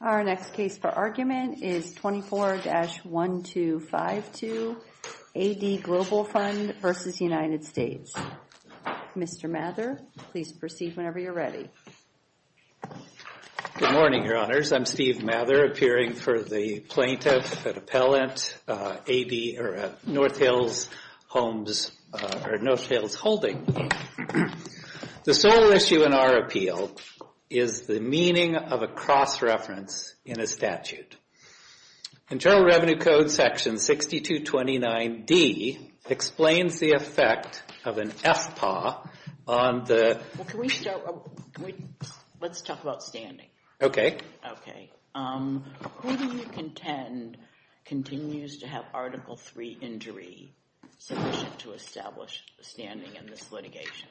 Our next case for argument is 24-1252, AD Global Fund v. United States. Mr. Mather, please proceed whenever you're ready. Good morning, Your Honors. I'm Steve Mather, appearing for the Plaintiff at Appellant AD, or at North Hills Homes, or North Hills Holding. The sole issue in our appeal is the meaning of a cross-reference in a statute. And General Revenue Code section 6229D explains the effect of an FPAW on the... Well, can we start... Let's talk about standing. Okay. Okay. Who do you contend continues to have Article III injury sufficient to establish standing in this litigation?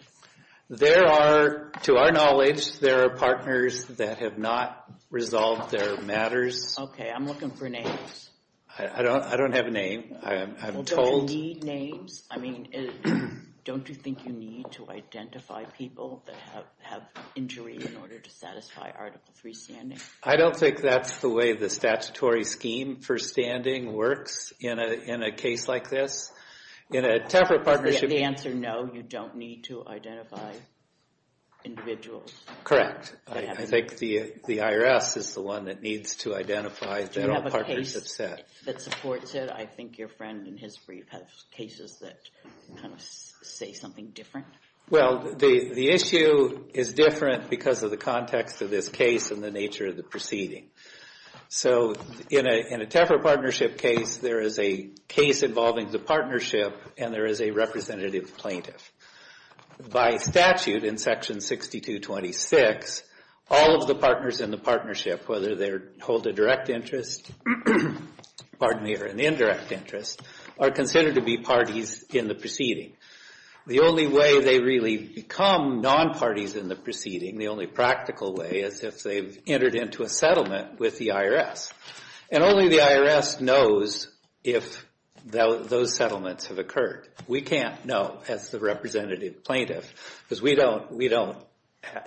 There are, to our knowledge, there are partners that have not resolved their matters. Okay. I'm looking for names. I don't have a name. I'm told... Do you need names? I mean, don't you think you need to identify people that have injury in order to satisfy Article III standing? I don't think that's the way the statutory scheme for standing works in a case like this. In a TEFRA partnership... The answer, no, you don't need to identify individuals. Correct. I think the IRS is the one that needs to identify that all partners have said. That supports it. I think your friend in his brief has cases that kind of say something different. Well, the issue is different because of the context of this case and the nature of the proceeding. So in a TEFRA partnership case, there is a case involving the partnership and there is a representative plaintiff. By statute in Section 6226, all of the partners in the partnership, whether they hold a direct interest, pardon me, or an indirect interest, are considered to be parties in the proceeding. The only way they really become non-parties in the proceeding, the only practical way, is if they've entered into a settlement with the IRS. And only the IRS knows if those settlements have occurred. We can't know, as the representative plaintiff, because we don't have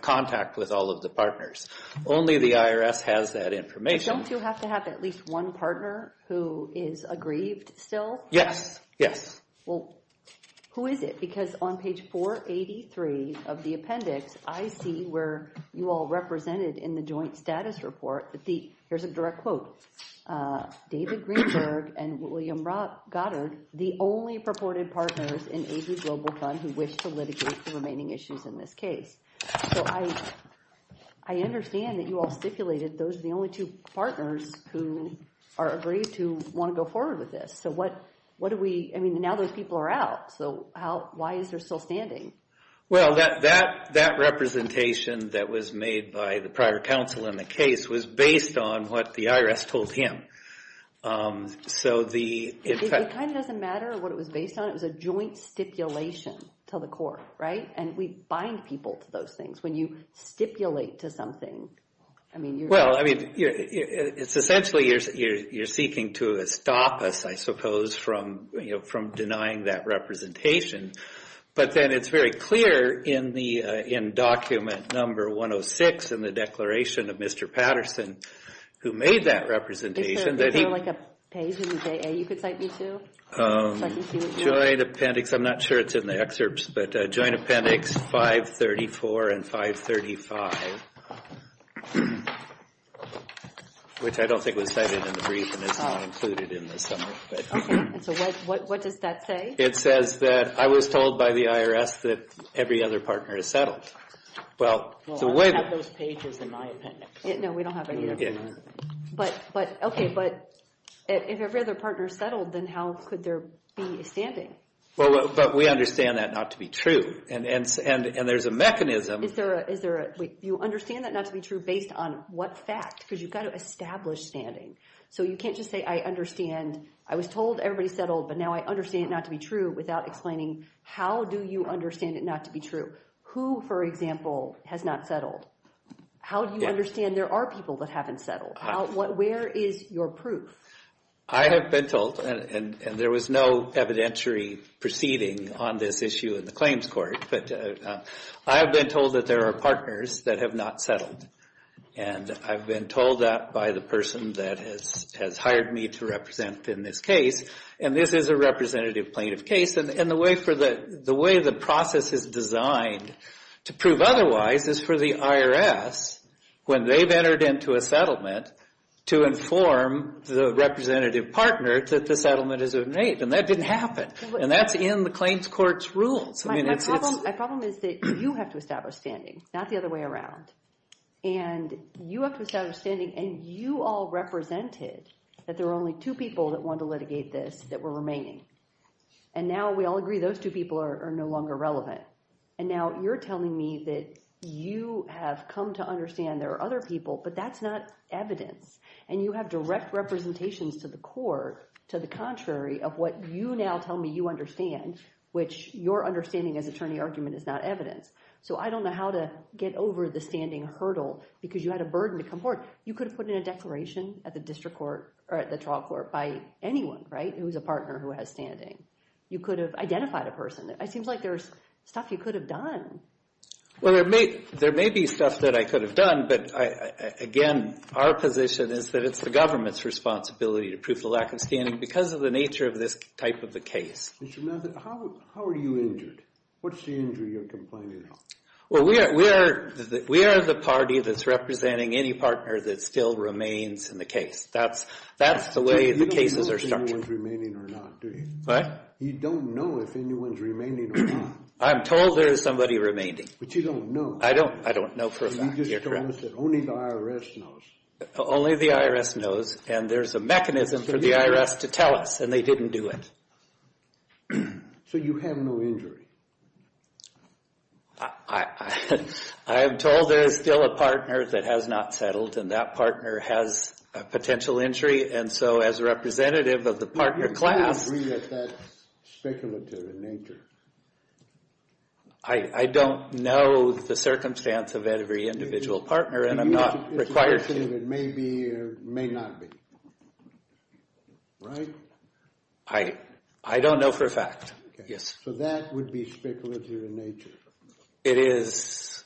contact with all of the partners. Only the IRS has that information. Don't you have to have at least one partner who is aggrieved still? Yes, yes. Well, who is it? Because on page 483 of the appendix, I see where you all represented in the joint status report. Here's a direct quote. David Greenberg and William Goddard, the only purported partners in AG Global Fund who wish to litigate the remaining issues in this case. So I understand that you all stipulated those are the only two partners who are aggrieved to want to go forward with this. So what do we, I mean, now those people are out. So why is there still standing? Well, that representation that was made by the prior counsel in the case was based on what the IRS told him. So the- It kind of doesn't matter what it was based on. It was a joint stipulation to the court, right? And we bind people to those things. When you stipulate to something, I mean- Well, I mean, it's essentially you're seeking to stop us, I suppose, from denying that representation. But then it's very clear in document number 106 in the declaration of Mr. Patterson who made that representation that he- Is there like a page in the JA you could cite me to? Joint appendix, I'm not sure it's in the excerpts, but joint appendix 534 and 535, which I don't think was cited in the brief and is not included in the summary. Okay, and so what does that say? It says that I was told by the IRS that every other partner is settled. Well, the way- Well, I have those pages in my appendix. No, we don't have any of that. Okay. But, okay, but if every other partner is settled, then how could there be a standing? Well, but we understand that not to be true. And there's a mechanism- Is there a- you understand that not to be true based on what fact? Because you've got to establish standing. So you can't just say I understand. I was told everybody's settled, but now I understand it not to be true without explaining how do you understand it not to be true? Who, for example, has not settled? How do you understand there are people that haven't settled? Where is your proof? I have been told, and there was no evidentiary proceeding on this issue in the claims court, but I have been told that there are partners that have not settled. And I've been told that by the person that has hired me to represent in this case. And this is a representative plaintiff case. And the way the process is designed to prove otherwise is for the IRS, when they've entered into a settlement, to inform the representative partner that the settlement is made. And that didn't happen. And that's in the claims court's rules. My problem is that you have to establish standing, not the other way around. And you have to establish standing, and you all represented that there were only two people that wanted to litigate this that were remaining. And now we all agree those two people are no longer relevant. And now you're telling me that you have come to understand there are other people, but that's not evidence. And you have direct representations to the court to the contrary of what you now tell me you understand, which your understanding as attorney argument is not evidence. So I don't know how to get over the standing hurdle because you had a burden to comport. You could have put in a declaration at the district court or at the trial court by anyone, right, who's a partner who has standing. You could have identified a person. It seems like there's stuff you could have done. Well, there may be stuff that I could have done. But, again, our position is that it's the government's responsibility to prove the lack of standing because of the nature of this type of a case. Mr. Mathis, how are you injured? What's the injury you're complaining about? Well, we are the party that's representing any partner that still remains in the case. That's the way the cases are structured. You don't know if anyone's remaining or not, do you? What? You don't know if anyone's remaining or not. I'm told there is somebody remaining. But you don't know. I don't know for a fact. You're correct. You just told us that only the IRS knows. Only the IRS knows, and there's a mechanism for the IRS to tell us, and they didn't do it. So you have no injury. I am told there is still a partner that has not settled, and that partner has a potential injury. And so as a representative of the partner class... Do you agree that that's speculative in nature? I don't know the circumstance of every individual partner, and I'm not required to. It's a question of it may be or may not be. Right? I don't know for a fact, yes. So that would be speculative in nature. It is.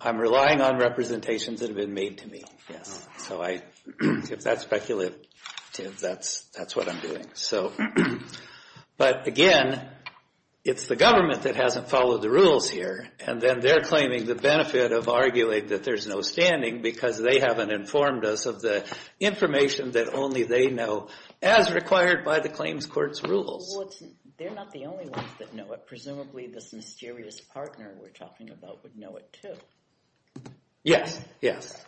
I'm relying on representations that have been made to me, yes. If that's speculative, that's what I'm doing. But again, it's the government that hasn't followed the rules here, and then they're claiming the benefit of arguing that there's no standing because they haven't informed us of the information that only they know, as required by the claims court's rules. They're not the only ones that know it. Presumably this mysterious partner we're talking about would know it too. Yes, yes.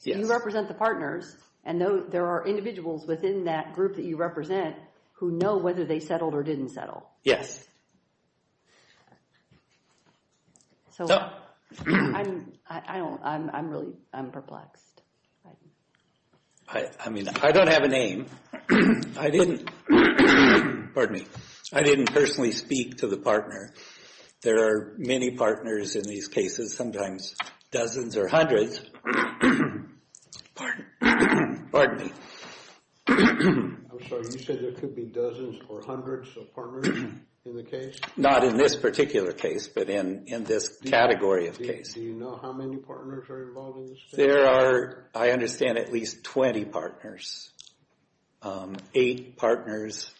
So you represent the partners, and there are individuals within that group that you represent who know whether they settled or didn't settle. Yes. So I'm really perplexed. I mean, I don't have a name. I didn't personally speak to the partner. There are many partners in these cases, sometimes dozens or hundreds. Pardon me. I'm sorry, you said there could be dozens or hundreds of partners in the case? Not in this particular case, but in this category of case. Do you know how many partners are involved in this case? There are, I understand, at least 20 partners. Eight partners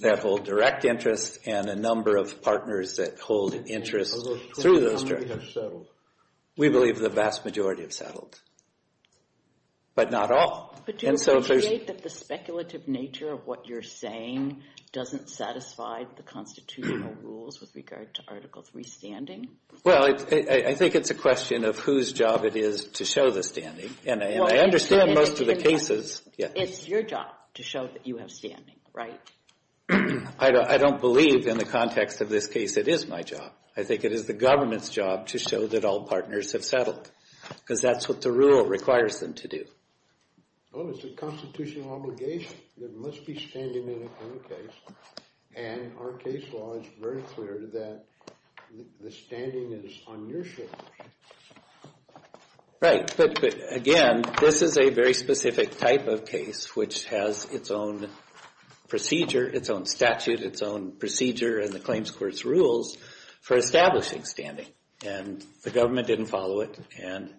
that hold direct interest, and a number of partners that hold interest through those directors. How many have settled? We believe the vast majority have settled, but not all. But do you appreciate that the speculative nature of what you're saying doesn't satisfy the constitutional rules with regard to Article III standing? Well, I think it's a question of whose job it is to show the standing. And I understand most of the cases. It's your job to show that you have standing, right? I don't believe in the context of this case it is my job. I think it is the government's job to show that all partners have settled because that's what the rule requires them to do. Well, it's a constitutional obligation. There must be standing in a case, and our case law is very clear that the standing is on your shoulders. Right, but again, this is a very specific type of case which has its own procedure, its own statute, its own procedure and the claims court's rules for establishing standing. And the government didn't follow it, and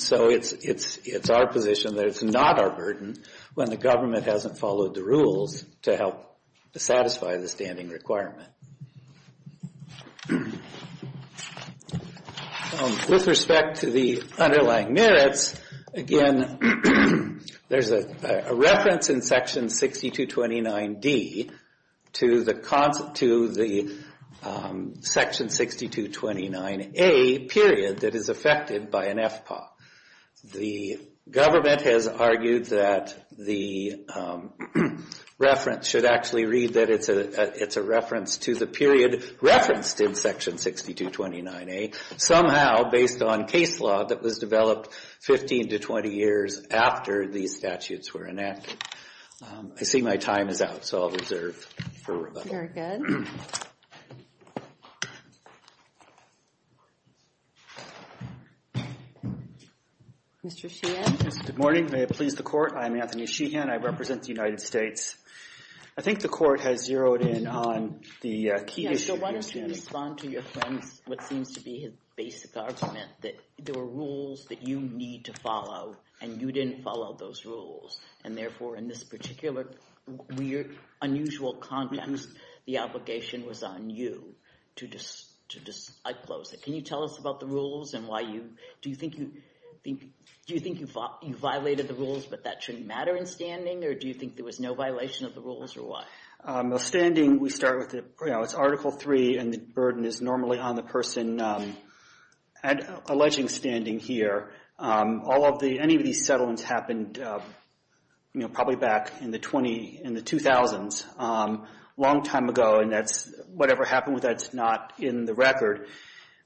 so it's our position that it's not our burden when the government hasn't followed the rules to help satisfy the standing requirement. With respect to the underlying merits, again, there's a reference in Section 6229D to the Section 6229A period that is affected by an FPAW. The government has argued that the reference should actually read that it's a reference to the period referenced in Section 6229A somehow based on case law that was developed 15 to 20 years after these statutes were enacted. I see my time is out, so I'll reserve for rebuttal. Very good. Mr. Sheehan. Good morning, may it please the Court. I'm Anthony Sheehan. I represent the United States. I think the Court has zeroed in on the key issue. So why don't you respond to your friend's, what seems to be his basic argument that there were rules that you need to follow and you didn't follow those rules and therefore in this particular weird, unusual context, the obligation was on you to disclose it. Can you tell us about the rules and do you think you violated the rules but that shouldn't matter in standing or do you think there was no violation of the rules or what? In standing, we start with Article 3 and the burden is normally on the person alleging standing here. Any of these settlements happened probably back in the 2000s, a long time ago, and whatever happened with that is not in the record.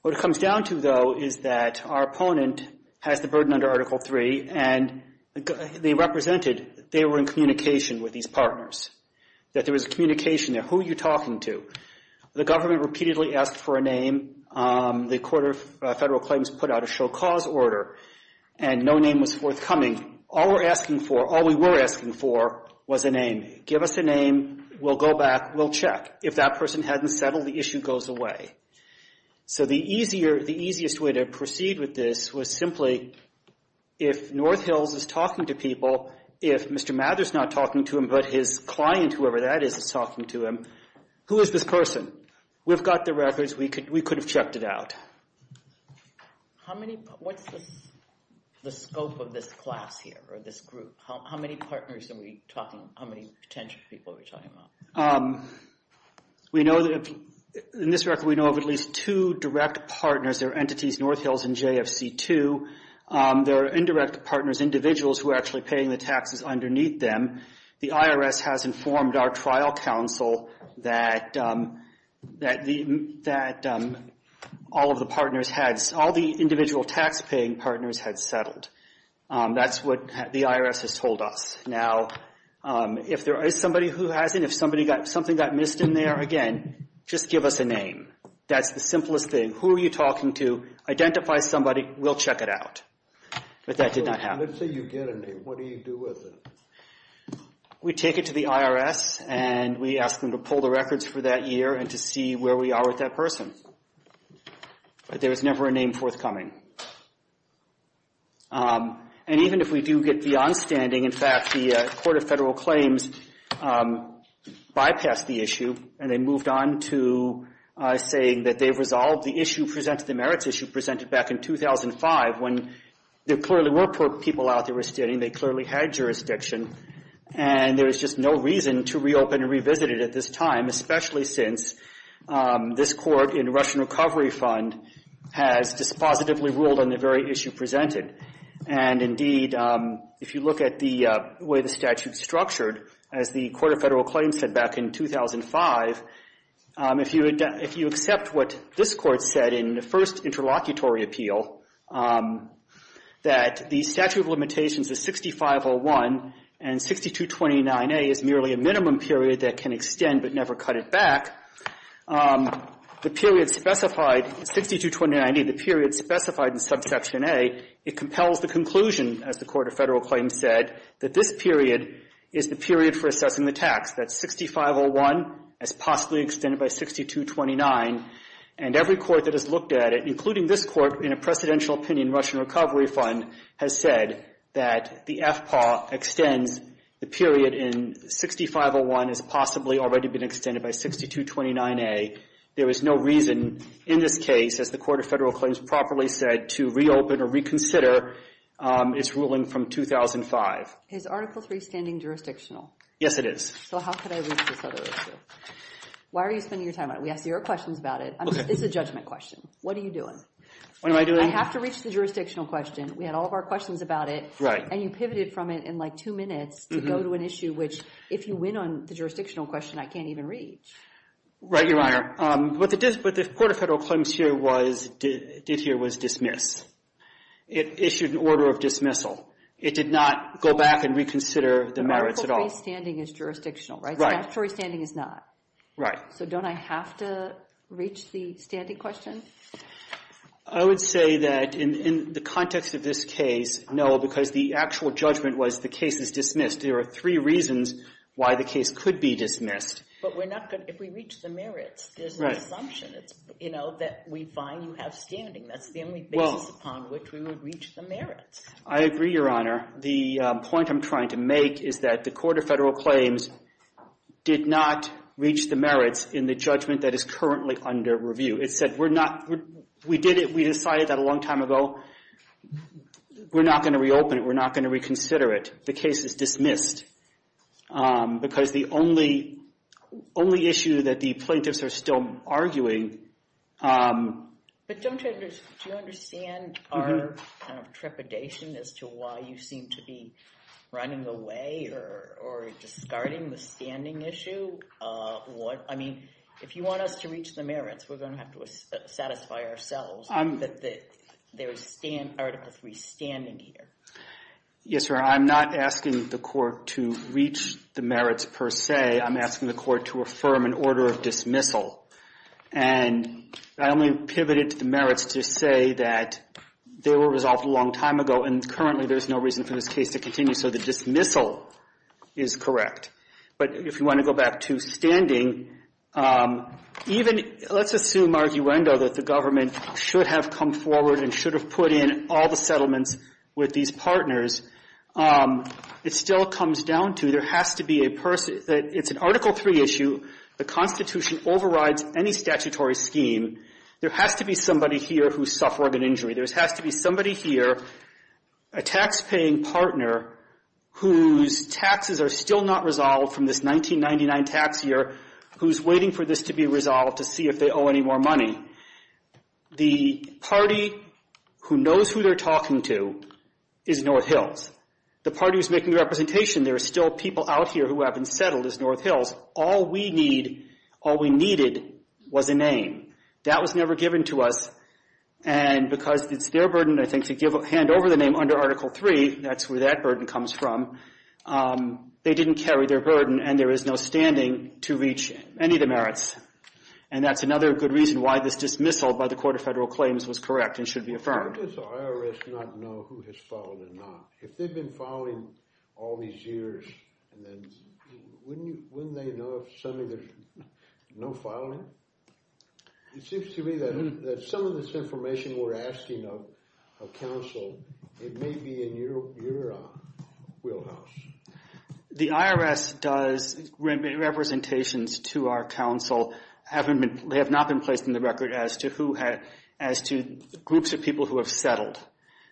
What it comes down to, though, is that our opponent has the burden under Article 3 and they represented they were in communication with these partners, that there was a communication there. Who are you talking to? The government repeatedly asked for a name. The Court of Federal Claims put out a show cause order and no name was forthcoming. All we were asking for was a name. Give us a name. We'll go back. We'll check. If that person hadn't settled, the issue goes away. So the easiest way to proceed with this was simply if North Hills is talking to people, if Mr. Mathers is not talking to him but his client, whoever that is, is talking to him, who is this person? We've got the records. We could have checked it out. What's the scope of this class here or this group? How many partners are we talking? How many potential people are we talking about? In this record, we know of at least two direct partners. They're entities North Hills and JFC2. They're indirect partners, individuals who are actually paying the taxes underneath them. The IRS has informed our trial counsel that all of the partners had, all the individual taxpaying partners had settled. That's what the IRS has told us. Now, if there is somebody who hasn't, if something got missed in there, again, just give us a name. That's the simplest thing. Who are you talking to? Identify somebody. We'll check it out. But that did not happen. Let's say you get a name. What do you do with it? We take it to the IRS, and we ask them to pull the records for that year and to see where we are with that person. But there was never a name forthcoming. And even if we do get beyond standing, in fact, the Court of Federal Claims bypassed the issue and they moved on to saying that they've resolved the issue presented, the merits issue presented back in 2005 when there clearly were poor people out there standing. They clearly had jurisdiction. And there was just no reason to reopen and revisit it at this time, especially since this court in Russian Recovery Fund has dispositively ruled on the very issue presented. And, indeed, if you look at the way the statute is structured, as the Court of Federal Claims said back in 2005, if you accept what this Court said in the first interlocutory appeal, that the statute of limitations is 6501 and 6229A is merely a minimum period that can extend but never cut it back, the period specified, 6229A, the period specified in subsection A, it compels the conclusion, as the Court of Federal Claims said, that this period is the period for assessing the tax. That's 6501 as possibly extended by 6229. And every court that has looked at it, including this court in a precedential opinion in Russian Recovery Fund, has said that the FPAW extends the period in 6501 as possibly already been extended by 6229A. There is no reason in this case, as the Court of Federal Claims properly said, to reopen or reconsider its ruling from 2005. Is Article III standing jurisdictional? Yes, it is. So how could I reach this other issue? Why are you spending your time on it? We asked your questions about it. Okay. It's a judgment question. What are you doing? What am I doing? I have to reach the jurisdictional question. We had all of our questions about it. Right. And you pivoted from it in like two minutes to go to an issue which, if you win on the jurisdictional question, I can't even reach. Right, Your Honor. What the Court of Federal Claims did here was dismiss. It issued an order of dismissal. It did not go back and reconsider the merits at all. Article III's standing is jurisdictional, right? Statutory standing is not. Right. So don't I have to reach the standing question? I would say that in the context of this case, no, because the actual judgment was the case is dismissed. There are three reasons why the case could be dismissed. But if we reach the merits, there's no assumption that we find you have standing. That's the only basis upon which we would reach the merits. I agree, Your Honor. The point I'm trying to make is that the Court of Federal Claims did not reach the merits in the judgment that is currently under review. It said we did it. We decided that a long time ago. We're not going to reopen it. We're not going to reconsider it. The case is dismissed. Because the only issue that the plaintiffs are still arguing... But don't you understand our trepidation as to why you seem to be running away or discarding the standing issue? I mean, if you want us to reach the merits, we're going to have to satisfy ourselves that there is Article III standing here. Yes, Your Honor. I'm not asking the Court to reach the merits per se. I'm asking the Court to affirm an order of dismissal. And I only pivoted to the merits to say that they were resolved a long time ago, and currently there's no reason for this case to continue. So the dismissal is correct. But if you want to go back to standing, even let's assume arguendo that the government should have come forward and should have put in all the settlements with these partners, it still comes down to there has to be a person... It's an Article III issue. The Constitution overrides any statutory scheme. There has to be somebody here who suffered an injury. There has to be somebody here, a taxpaying partner, whose taxes are still not resolved from this 1999 tax year, who's waiting for this to be resolved to see if they owe any more money. The party who knows who they're talking to is North Hills. The party who's making the representation, there are still people out here who haven't settled, is North Hills. All we need, all we needed was a name. That was never given to us, and because it's their burden, I think, to hand over the name under Article III, that's where that burden comes from, they didn't carry their burden, and there is no standing to reach any of the merits, and that's another good reason why this dismissal by the Court of Federal Claims was correct and should be affirmed. Why does the IRS not know who has filed or not? If they've been filing all these years, wouldn't they know if suddenly there's no filing? It seems to me that some of this information we're asking of counsel, it may be in your wheelhouse. The IRS does representations to our counsel. They have not been placed in the record as to groups of people who have settled,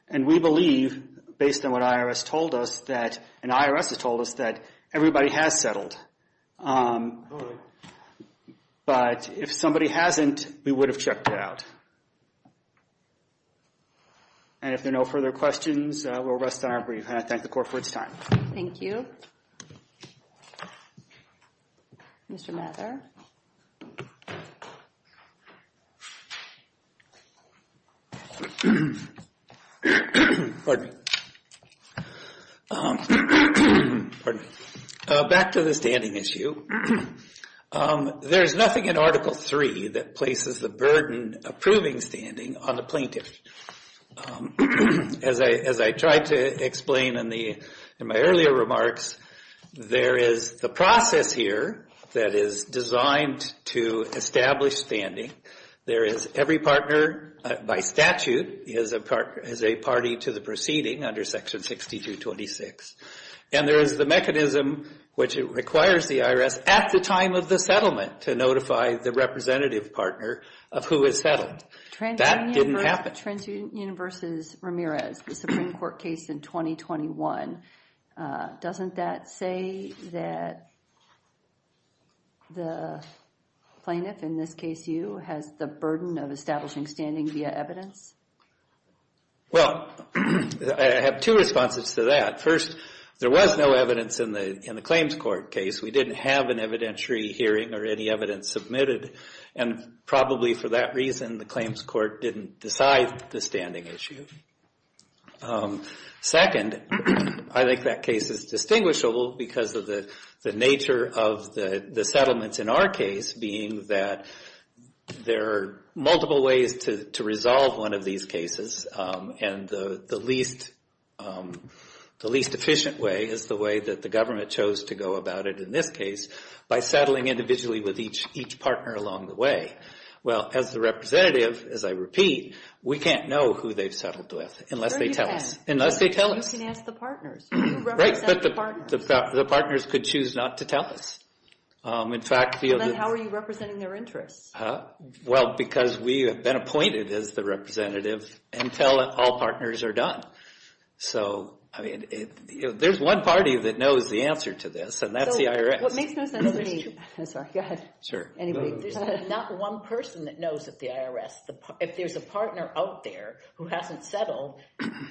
and we believe, based on what IRS told us, and IRS has told us, that everybody has settled. But if somebody hasn't, we would have checked it out. And if there are no further questions, we'll rest on our brief, and I thank the Court for its time. Thank you. Mr. Mather? Back to the standing issue. There's nothing in Article III that places the burden of proving standing on the plaintiff. As I tried to explain in my earlier remarks, there is the process here that is designed to establish standing. There is every partner, by statute, is a party to the proceeding under Section 6226, and there is the mechanism, which requires the IRS at the time of the settlement to notify the representative partner of who has settled. That didn't happen. TransUnion v. Ramirez, the Supreme Court case in 2021, doesn't that say that the plaintiff, in this case you, has the burden of establishing standing via evidence? Well, I have two responses to that. First, there was no evidence in the claims court case. We didn't have an evidentiary hearing or any evidence submitted, and probably for that reason the claims court didn't decide the standing issue. Second, I think that case is distinguishable because of the nature of the settlements in our case, being that there are multiple ways to resolve one of these cases, and the least efficient way is the way that the government chose to go about it in this case, by settling individually with each partner along the way. Well, as the representative, as I repeat, we can't know who they've settled with unless they tell us. You can ask the partners. Right, but the partners could choose not to tell us. Then how are you representing their interests? Well, because we have been appointed as the representative until all partners are done. So, I mean, there's one party that knows the answer to this, and that's the IRS. What makes most sense to me— I'm sorry, go ahead. Sure. Anyway, there's not one person that knows that the IRS— if there's a partner out there who hasn't settled,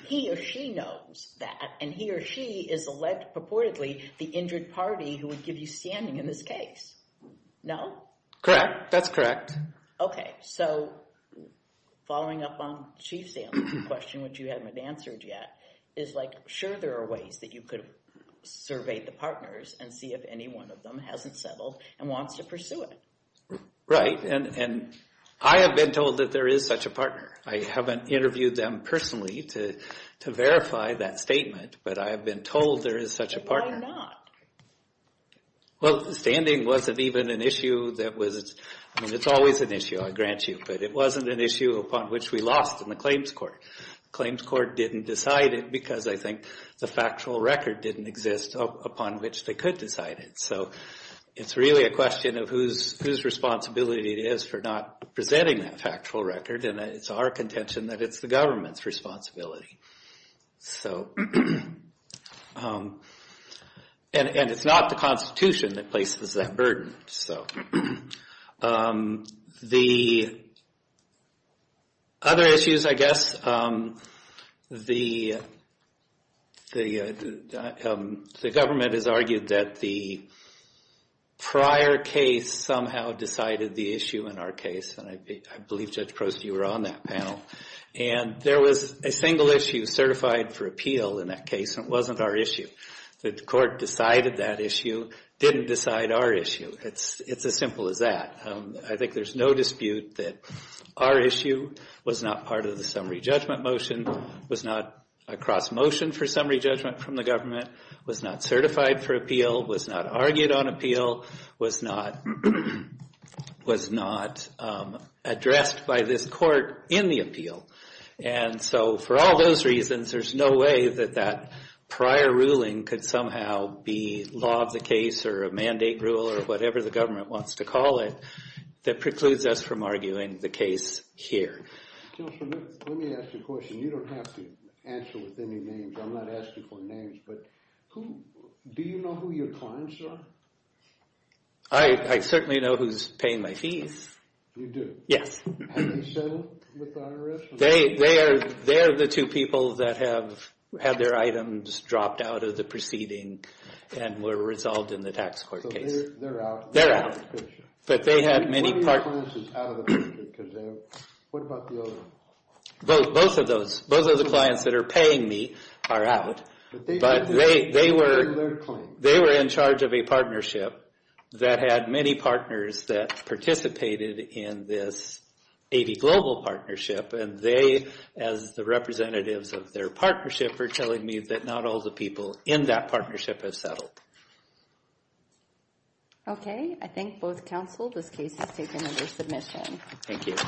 he or she knows that, and he or she is purportedly the injured party who would give you standing in this case. No? Correct, that's correct. Okay, so following up on Chief Sam's question, which you haven't answered yet, is like, sure there are ways that you could survey the partners and see if any one of them hasn't settled and wants to pursue it. Right, and I have been told that there is such a partner. I haven't interviewed them personally to verify that statement, but I have been told there is such a partner. Why not? Well, standing wasn't even an issue that was— I mean, it's always an issue, I grant you, but it wasn't an issue upon which we lost in the claims court. The claims court didn't decide it because, I think, the factual record didn't exist upon which they could decide it. So it's really a question of whose responsibility it is for not presenting that factual record, and it's our contention that it's the government's responsibility. So, and it's not the Constitution that places that burden, so. The other issues, I guess, the government has argued that the prior case somehow decided the issue in our case, and I believe, Judge Prost, you were on that panel. And there was a single issue certified for appeal in that case, and it wasn't our issue. The court decided that issue, didn't decide our issue. It's as simple as that. I think there's no dispute that our issue was not part of the summary judgment motion, was not a cross-motion for summary judgment from the government, was not certified for appeal, was not argued on appeal, was not addressed by this court in the appeal. And so for all those reasons, there's no way that that prior ruling could somehow be law of the case or a mandate rule or whatever the government wants to call it that precludes us from arguing the case here. Judge, let me ask you a question. You don't have to answer with any names. I'm not asking for names, but do you know who your clients are? I certainly know who's paying my fees. You do? Yes. Have you settled with the IRS? They are the two people that have had their items dropped out of the proceeding and were resolved in the tax court case. So they're out? They're out. But they had many partners. What about the other ones? Both of those. Both of the clients that are paying me are out, but they were in charge of a partnership that had many partners that participated in this A.V. Global partnership, and they, as the representatives of their partnership, are telling me that not all the people in that partnership have settled. Okay. I thank both counsel. This case is taken under submission. Thank you.